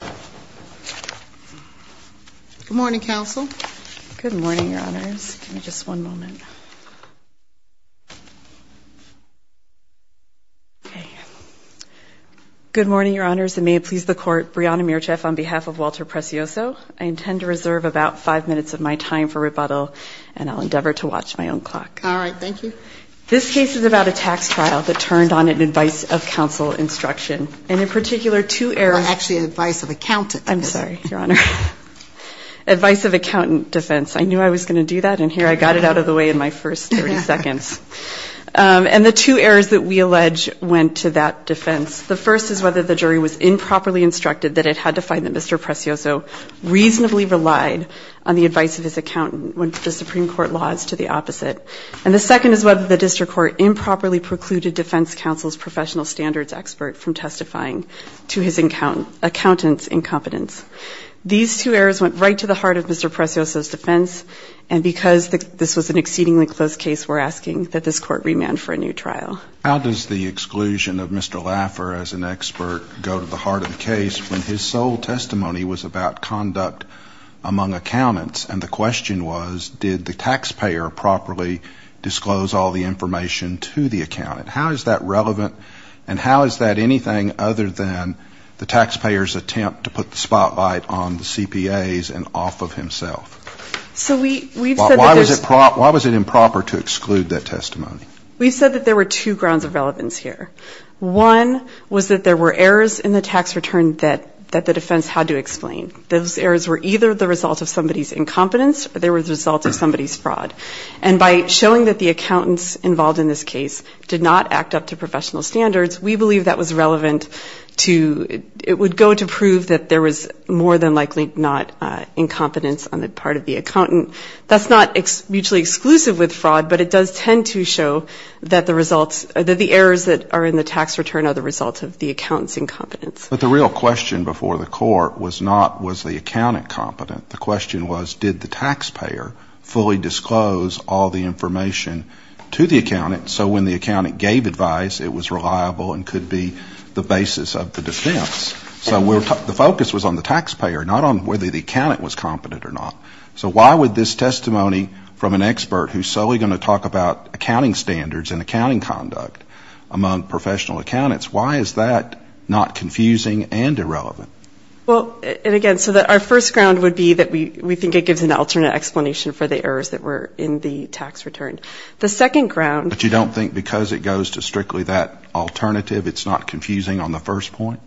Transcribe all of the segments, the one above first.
Good morning, Your Honors, and may it please the Court, Brianna Mircheff on behalf of Walter Prezioso, I intend to reserve about five minutes of my time for rebuttal, and I'll endeavor to watch my own clock. This case is about a tax trial that turned on an advice of counsel instruction, and in I'm sorry, Your Honor. Advice of accountant defense. I knew I was going to do that, and here I got it out of the way in my first 30 seconds. And the two errors that we allege went to that defense. The first is whether the jury was improperly instructed that it had to find that Mr. Prezioso reasonably relied on the advice of his accountant when the Supreme Court laws to the opposite. And the second is whether the district court improperly precluded defense counsel's professional standards expert from testifying to his accountant's incompetence. These two errors went right to the heart of Mr. Prezioso's defense, and because this was an exceedingly close case, we're asking that this Court remand for a new trial. How does the exclusion of Mr. Laffer as an expert go to the heart of the case when his sole testimony was about conduct among accountants, and the question was, did the taxpayer properly disclose all the information to the accountant? How is that relevant, and how is that anything other than the taxpayer's attempt to put the spotlight on the CPAs and off of himself? So we've said that there's Why was it improper to exclude that testimony? We've said that there were two grounds of relevance here. One was that there were errors in the tax return that the defense had to explain. Those errors were either the result of somebody's incompetence, or they were the result of somebody's fraud. And by showing that the accountants involved in this case did not act up to professional standards, we believe that was relevant to It would go to prove that there was more than likely not incompetence on the part of the accountant. That's not mutually exclusive with fraud, but it does tend to show that the results that the errors that are in the tax return are the result of the accountant's incompetence. But the real question before the Court was not, was the accountant competent? The question was, did the taxpayer fully disclose all the information to the accountant so when the accountant gave advice, it was reliable and could be the basis of the defense? So the focus was on the taxpayer, not on whether the accountant was competent or not. So why would this testimony from an expert who's solely going to talk about accounting standards and accounting conduct among professional accountants, why is that not confusing and irrelevant? Well, and again, so our first ground would be that we think it gives an alternate explanation for the errors that were in the tax return. The second ground But you don't think because it goes to strictly that alternative, it's not confusing on the first point?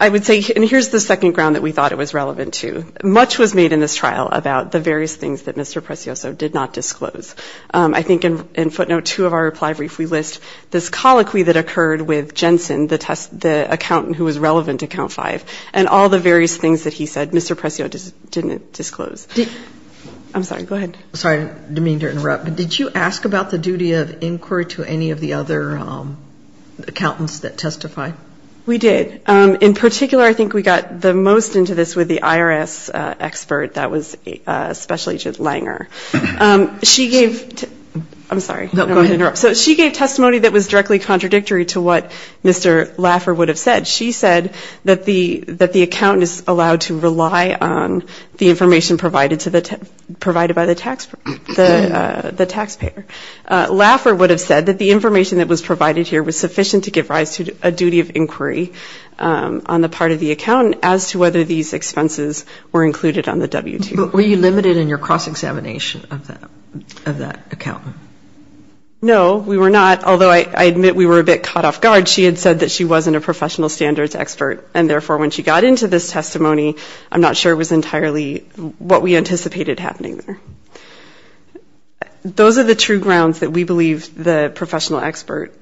I would say, and here's the second ground that we thought it was relevant to. Much was made in this trial about the various things that Mr. Precioso did not disclose. I think in footnote two of our reply brief, we list this colloquy that occurred with Jensen, the accountant who was relevant to count five, and all the various things that he said, Mr. Precioso didn't disclose. I'm sorry, go ahead. I'm sorry, I didn't mean to interrupt, but did you ask about the duty of inquiry to any of the other accountants that testify? We did. In particular, I think we got the most into this with the IRS expert that was Special Agent Langer. She gave, I'm sorry, I don't want to interrupt. She gave testimony that was directly contradictory to what Mr. Laffer would have said. She said that the accountant is allowed to rely on the information provided by the taxpayer. Laffer would have said that the information that was provided here was sufficient to give rise to a duty of inquiry on the part of the accountant as to whether these expenses were included on the W-2. But were you limited in your cross-examination of that accountant? No, we were not, although I admit we were a bit caught off guard. She had said that she wasn't a professional standards expert, and therefore when she got into this testimony, I'm not sure it was entirely what we anticipated happening there. Those are the true grounds that we believe the professional expert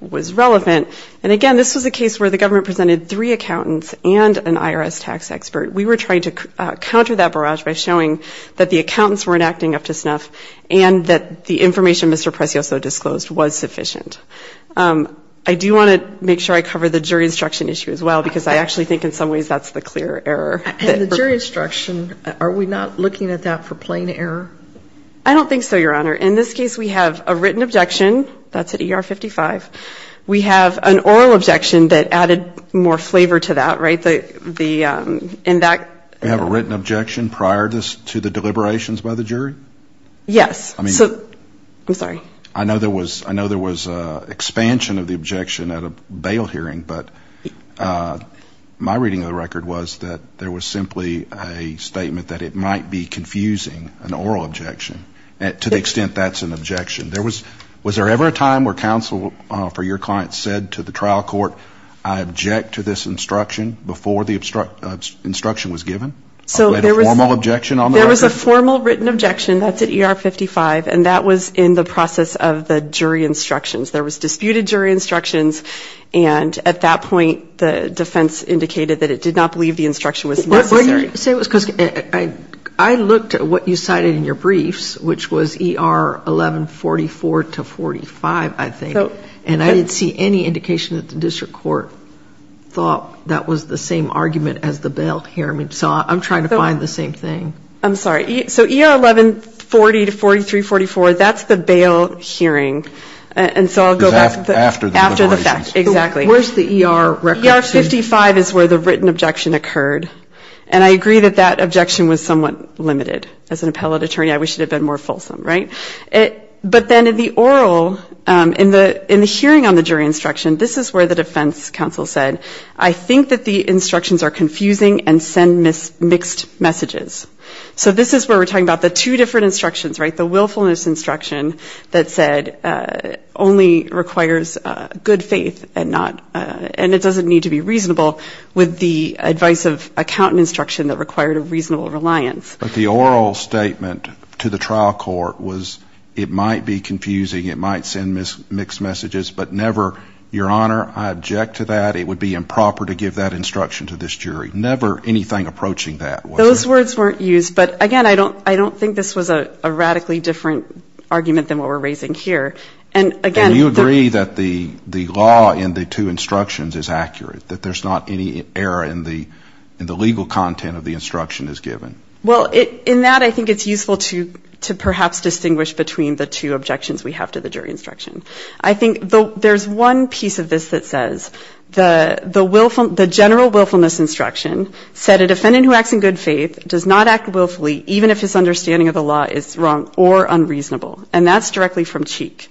was relevant. And again, this was a case where the government presented three accountants and an IRS tax expert. We were trying to counter that barrage by showing that the accountants weren't acting up to snuff, and that the information Mr. Precioso disclosed was sufficient. I do want to make sure I cover the jury instruction issue as well, because I actually think in some ways that's the clear error. And the jury instruction, are we not looking at that for plain error? I don't think so, Your Honor. In this case, we have a written objection, that's at ER 55. We have an oral objection that added more flavor to that, right? You have a written objection prior to the deliberations by the jury? Yes. I'm sorry. I know there was an expansion of the objection at a bail hearing, but my reading of the record was that there was simply a statement that it might be confusing, an oral objection, to the extent that's an objection. Was there ever a time where counsel for your client said to the trial court, I object to this instruction, before the instruction was given? So there was a formal written objection, that's at ER 55, and that was in the process of the jury instructions. There was disputed jury instructions, and at that point, the defense indicated that it did not believe the instruction was necessary. I looked at what you cited in your briefs, which was ER 1144-45, I think, and I didn't see any indication that the district court thought that was the same argument as the bail hearing. So I'm trying to find the same thing. I'm sorry. So ER 1140-43-44, that's the bail hearing, and so I'll go back to that. After the deliberations. Exactly. Where's the ER record? ER 55 is where the written objection occurred, and I agree that that objection was somewhat limited. As an appellate attorney, I wish it had been more fulsome, right? But then in the oral, in the hearing on the jury instruction, this is where the defense counsel said, I think that the instructions are confusing and send mixed messages. So this is where we're talking about the two different instructions, right? The willfulness instruction that said, only requires good faith, and it doesn't need to be reasonable, with the advice of accountant instruction that required a reasonable reliance. But the oral statement to the trial court was, it might be confusing, it might send mixed messages, but never, Your Honor, I object to that, it would be improper to give that instruction to this jury. Never anything approaching that. Those words weren't used, but again, I don't think this was a radically different argument than what we're raising here. And again, And you agree that the law in the two instructions is accurate, that there's not any error in the legal content of the instruction is given. Well, in that, I think it's useful to perhaps distinguish between the two objections we have to the jury instruction. I think there's one piece of this that says, the general willfulness instruction said, a defendant who acts in good faith does not act willfully, even if his understanding of the law is wrong or unreasonable. And that's directly from Cheek.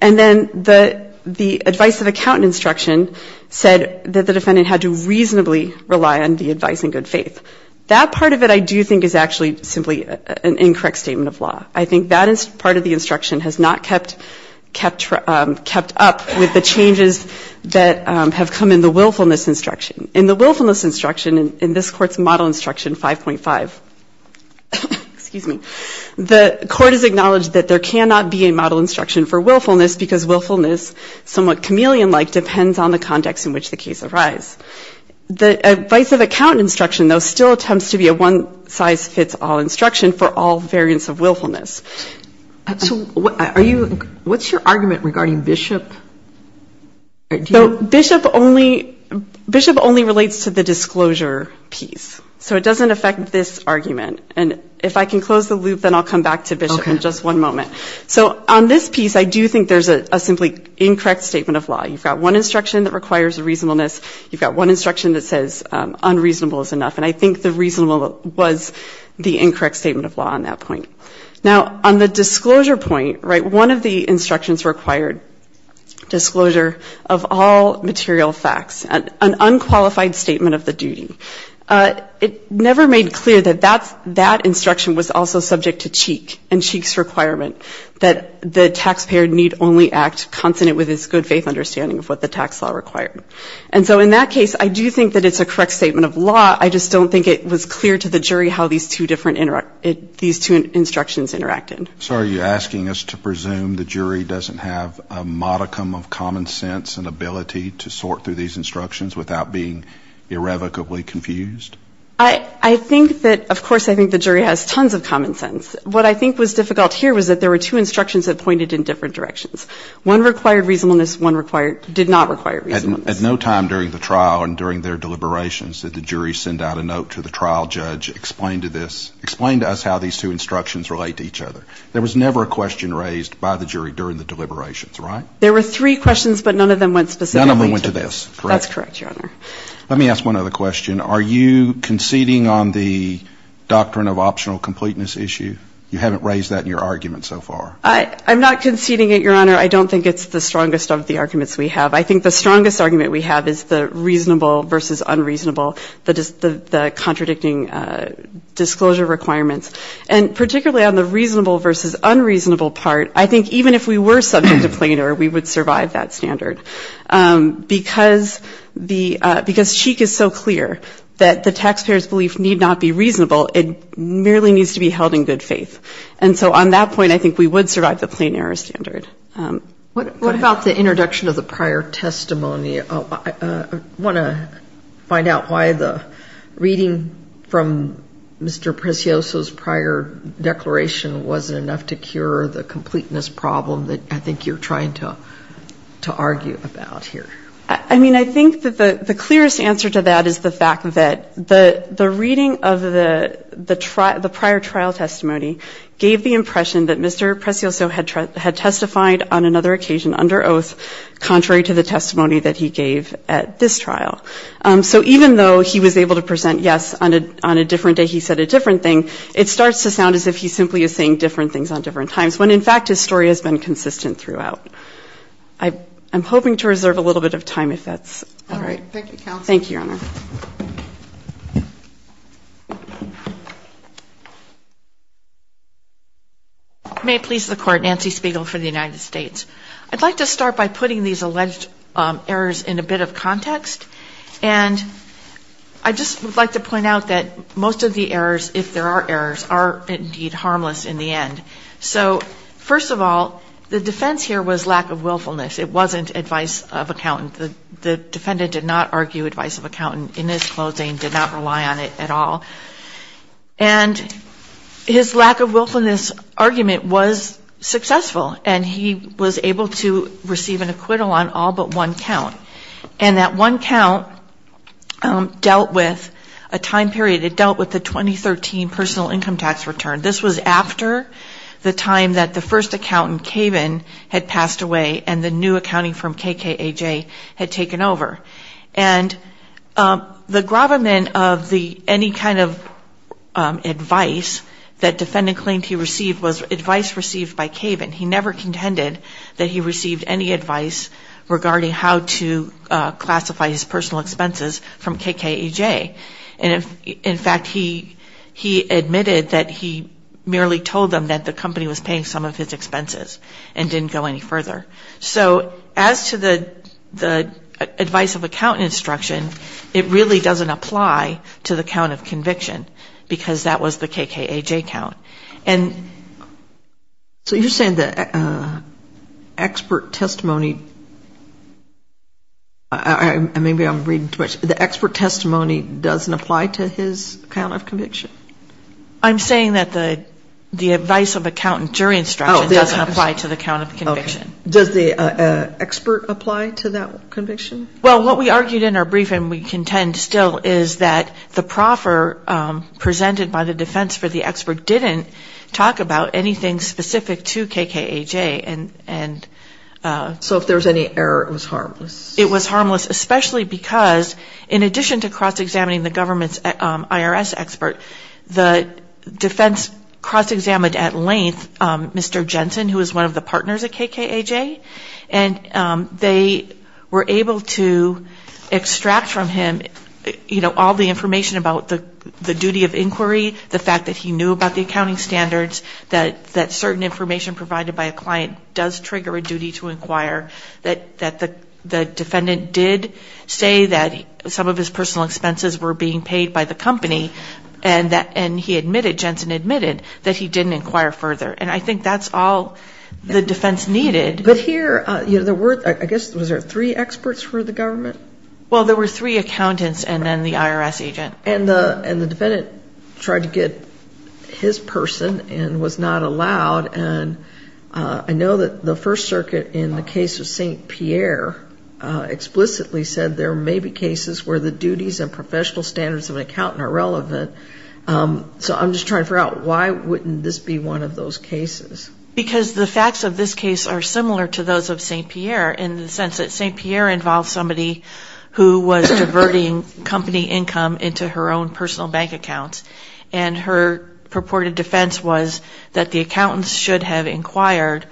And then the advice of accountant instruction said that the defendant had to reasonably rely on the advice in good faith. That part of it, I do think, is actually simply an incorrect statement of law. I think that is part of the instruction has not kept up with the changes that have come in the willfulness instruction. In the willfulness instruction, in this court's model instruction 5.5, the court has acknowledged that there cannot be a model instruction for willfulness because willfulness, somewhat chameleon-like, depends on the context in which the case arise. The advice of accountant instruction, though, still attempts to be a one-size-fits-all instruction for all variants of willfulness. So, are you, what's your argument regarding Bishop? Bishop only, Bishop only relates to the disclosure piece. So it doesn't affect this argument. And if I can close the loop, then I'll come back to Bishop in just one moment. So on this piece, I do think there's a simply incorrect statement of law. You've got one instruction that requires reasonableness. You've got one instruction that says unreasonable is enough. And I think the reasonable was the incorrect statement of law on that point. Now, on the disclosure point, right, one of the instructions required disclosure of all material facts, an unqualified statement of the duty. It never made clear that that instruction was also subject to Cheek and Cheek's requirement that the taxpayer need only act consonant with his good faith understanding of what the tax law required. And so in that case, I do think that it's a correct statement of law. I just don't think it was clear to the jury how these two different, these two instructions interacted. So are you asking us to presume the jury doesn't have a modicum of common sense and ability to sort through these instructions without being irrevocably confused? I think that, of course, I think the jury has tons of common sense. What I think was difficult here was that there were two instructions that pointed in different directions. One required reasonableness, one did not require reasonableness. At no time during the trial and during their deliberations did the jury send out a note to the trial judge, explain to this, explain to us how these two instructions relate to each other. There was never a question raised by the jury during the deliberations, right? There were three questions, but none of them went specifically to this. None of them went to this. Correct? That's correct, Your Honor. Let me ask one other question. Are you conceding on the doctrine of optional completeness issue? You haven't raised that in your argument so far. I'm not conceding it, Your Honor. I don't think it's the strongest of the arguments we have. I think the strongest argument we have is the reasonable versus unreasonable, the contradicting disclosure requirements. And particularly on the reasonable versus unreasonable part, I think even if we were subject to plainer, we would survive that standard. Because Cheek is so clear that the taxpayer's belief need not be reasonable, it merely needs to be held in good faith. And so on that point, I think we would survive the plainer standard. What about the introduction of the prior testimony? I want to find out why the reading from Mr. Precioso's prior declaration wasn't enough to cure the completeness problem that I think you're trying to argue about here. I mean, I think that the clearest answer to that is the fact that the reading of the prior trial testimony gave the impression that Mr. Precioso had testified on another occasion under oath contrary to the testimony that he gave at this trial. So even though he was able to present yes on a different day, he said a different thing, it starts to sound as if he simply is saying different things on different times, when in fact his story has been consistent throughout. I'm hoping to reserve a little bit of time if that's all right. Thank you, Counsel. Thank you, Your Honor. May it please the Court, Nancy Spiegel for the United States. I'd like to start by putting these alleged errors in a bit of context. And I just would like to point out that most of the errors, if there are errors, are indeed harmless in the end. So first of all, the defense here was lack of willfulness. It wasn't advice of accountant. The defendant did not argue advice of accountant in his closing, did not rely on it at all. And his lack of willfulness argument was successful, and he was able to receive an acquittal on all but one count. And that one count dealt with a time period, it dealt with the 2013 personal income tax return. This was after the time that the first accountant, Kaven, had passed away and the new accounting firm, KKAJ, had taken over. And the gravamen of any kind of advice that defendant claimed he received was advice received by Kaven. He never contended that he received any advice regarding how to classify his personal expenses from KKAJ. And in fact, he admitted that he merely told them that the company was paying some of his expenses and didn't go any further. So as to the advice of accountant instruction, it really doesn't apply to the count of conviction because that was the KKAJ count. And... So you're saying the expert testimony, maybe I'm reading too much, the expert testimony doesn't apply to his count of conviction? I'm saying that the advice of accountant jury instruction doesn't apply to the count of Does the expert apply to that conviction? Well, what we argued in our briefing, we contend still, is that the proffer presented by the defense for the expert didn't talk about anything specific to KKAJ and... So if there was any error, it was harmless? It was harmless, especially because in addition to cross-examining the government's IRS expert, the defense cross-examined at length Mr. Jensen, who is one of the partners at KKAJ. And they were able to extract from him all the information about the duty of inquiry, the fact that he knew about the accounting standards, that certain information provided by a client does trigger a duty to inquire, that the defendant did say that some of his personal expenses were being paid by the company, and he admitted, Jensen admitted, that he didn't inquire further. And I think that's all the defense needed. But here, there were, I guess, was there three experts for the government? Well, there were three accountants and then the IRS agent. And the defendant tried to get his person and was not allowed. And I know that the First Circuit in the case of St. Pierre explicitly said there may be duties and professional standards of an accountant are relevant. So I'm just trying to figure out why wouldn't this be one of those cases? Because the facts of this case are similar to those of St. Pierre in the sense that St. Pierre involved somebody who was diverting company income into her own personal bank accounts. And her purported defense was that the accountants should have inquired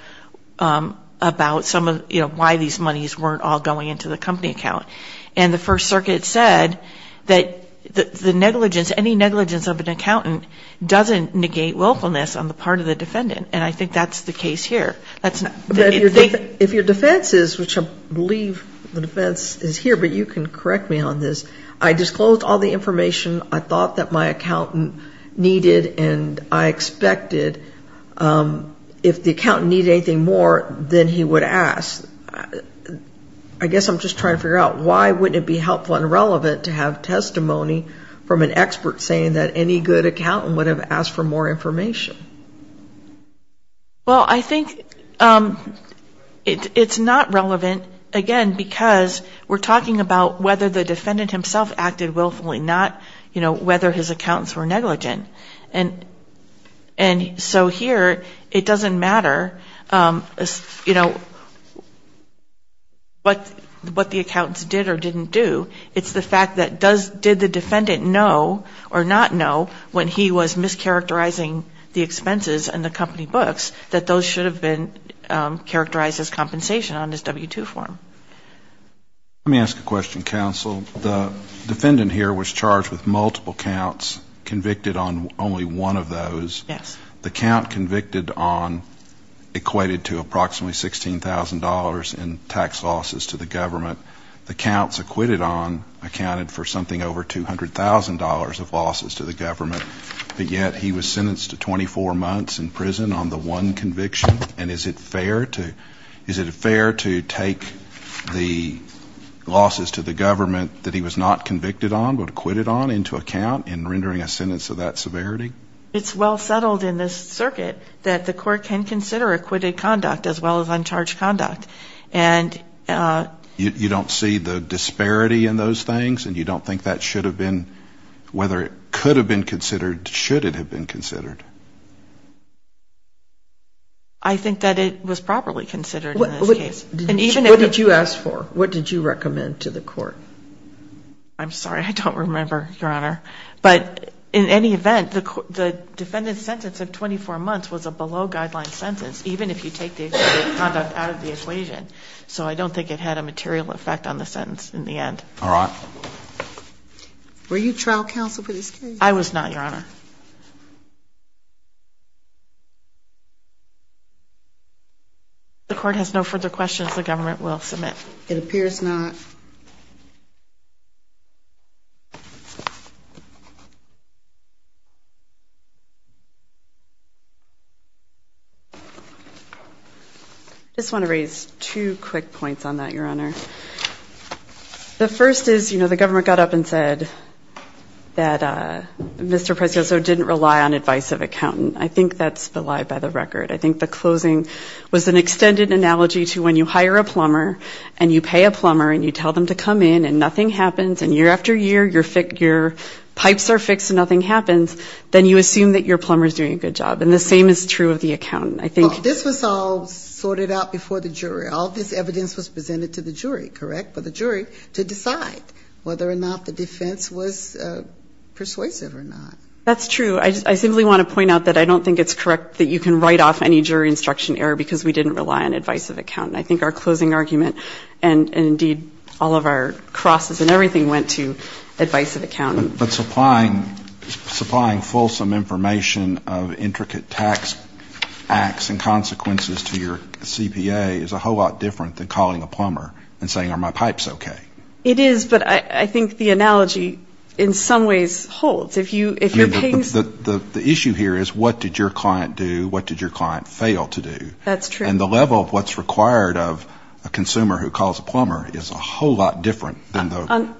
about some of, you know, why these monies weren't all going into the company account. And the First Circuit said that the negligence, any negligence of an accountant doesn't negate willfulness on the part of the defendant. And I think that's the case here. If your defense is, which I believe the defense is here, but you can correct me on this. I disclosed all the information I thought that my accountant needed and I expected. If the accountant needed anything more than he would ask, I guess I'm just trying to figure out why wouldn't it be helpful and relevant to have testimony from an expert saying that any good accountant would have asked for more information? Well I think it's not relevant, again, because we're talking about whether the defendant himself acted willfully, not, you know, whether his accountants were negligent. And so here it doesn't matter, you know, what the accountants did or didn't do. It's the fact that did the defendant know or not know when he was mischaracterizing the expenses and the company books that those should have been characterized as compensation on his W-2 form. Let me ask a question, counsel. The defendant here was charged with multiple counts, convicted on only one of those. Yes. The count convicted on equated to approximately $16,000 in tax losses to the government. The counts acquitted on accounted for something over $200,000 of losses to the government, but yet he was sentenced to 24 months in prison on the one conviction? And is it fair to take the losses to the government that he was not convicted on but acquitted on into account in rendering a sentence of that severity? It's well settled in this circuit that the court can consider acquitted conduct as well as uncharged conduct. And you don't see the disparity in those things and you don't think that should have been whether it could have been considered, should it have been considered. I think that it was properly considered in this case. What did you ask for? What did you recommend to the court? I'm sorry, I don't remember, Your Honor. But in any event, the defendant's sentence of 24 months was a below guideline sentence even if you take the acquitted conduct out of the equation. So I don't think it had a material effect on the sentence in the end. All right. Were you trial counsel for this case? I was not, Your Honor. The court has no further questions. The government will submit. It appears not. I just want to raise two quick points on that, Your Honor. The first is, you know, the government got up and said that Mr. Precioso didn't rely on advice of accountant. I think that's the lie by the record. I think the closing was an extended analogy to when you hire a plumber and you pay a plumber and you tell them to come in and nothing happens and year after year your pipes are fixed and nothing happens, then you assume that your plumber is doing a good job. And the same is true of the accountant. I think this was all sorted out before the jury. All this evidence was presented to the jury, correct, for the jury to decide whether or not the defense was persuasive or not. That's true. I simply want to point out that I don't think it's correct that you can write off any jury instruction error because we didn't rely on advice of accountant. I think our closing argument and indeed all of our crosses and everything went to advice of accountant. But supplying fulsome information of intricate tax acts and consequences to your CPA is a whole lot different than calling a plumber and saying, are my pipes okay? It is, but I think the analogy in some ways holds. The issue here is what did your client do, what did your client fail to do. And the level of what's required of a consumer who calls a plumber is a whole lot different than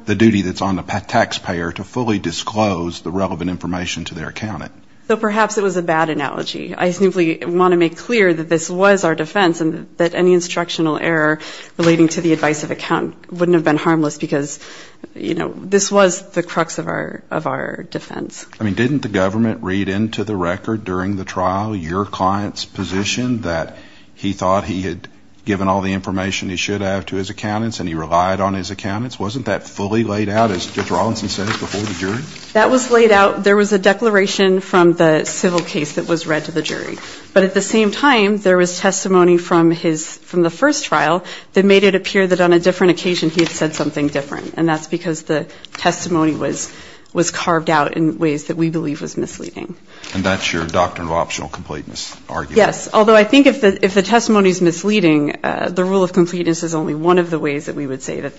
the duty that's on the taxpayer to fully disclose the relevant information to their accountant. So perhaps it was a bad analogy. I simply want to make clear that this was our defense and that any instructional error relating to the advice of accountant wouldn't have been harmless because this was the crux of our defense. I mean, didn't the government read into the record during the trial your client's position that he thought he had given all the information he should have to his accountants and he relied on his accountants? Wasn't that fully laid out as Judge Rawlinson said before the jury? That was laid out. There was a declaration from the civil case that was read to the jury. But at the same time, there was testimony from the first trial that made it appear that on a different occasion he had said something different. And that's because the testimony was carved out in ways that we believe was misleading. And that's your doctrine of optional completeness argument? Yes. Although I think if the testimony is misleading, the rule of completeness is only one of the ways that we would say that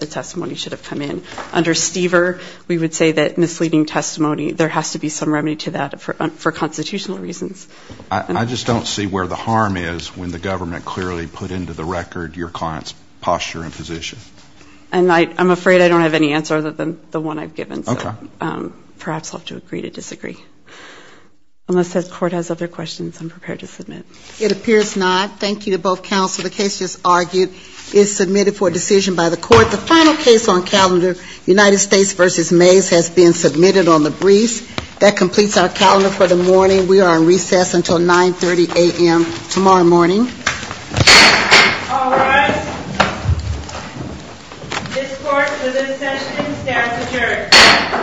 the testimony should have come in. Under Stever, we would say that misleading testimony, there has to be some remedy to that for constitutional reasons. I just don't see where the harm is when the government clearly put into the record your client's posture and position. And I'm afraid I don't have any answer other than the one I've given. Okay. So perhaps I'll have to agree to disagree. Unless the court has other questions, I'm prepared to submit. It appears not. Thank you to both counsel. The case just argued is submitted for a decision by the court. The final case on calendar, United States v. Mays, has been submitted on the briefs. That completes our calendar for the morning. We are on recess until 9.30 a.m. tomorrow morning. All rise. This court for this session stands adjourned.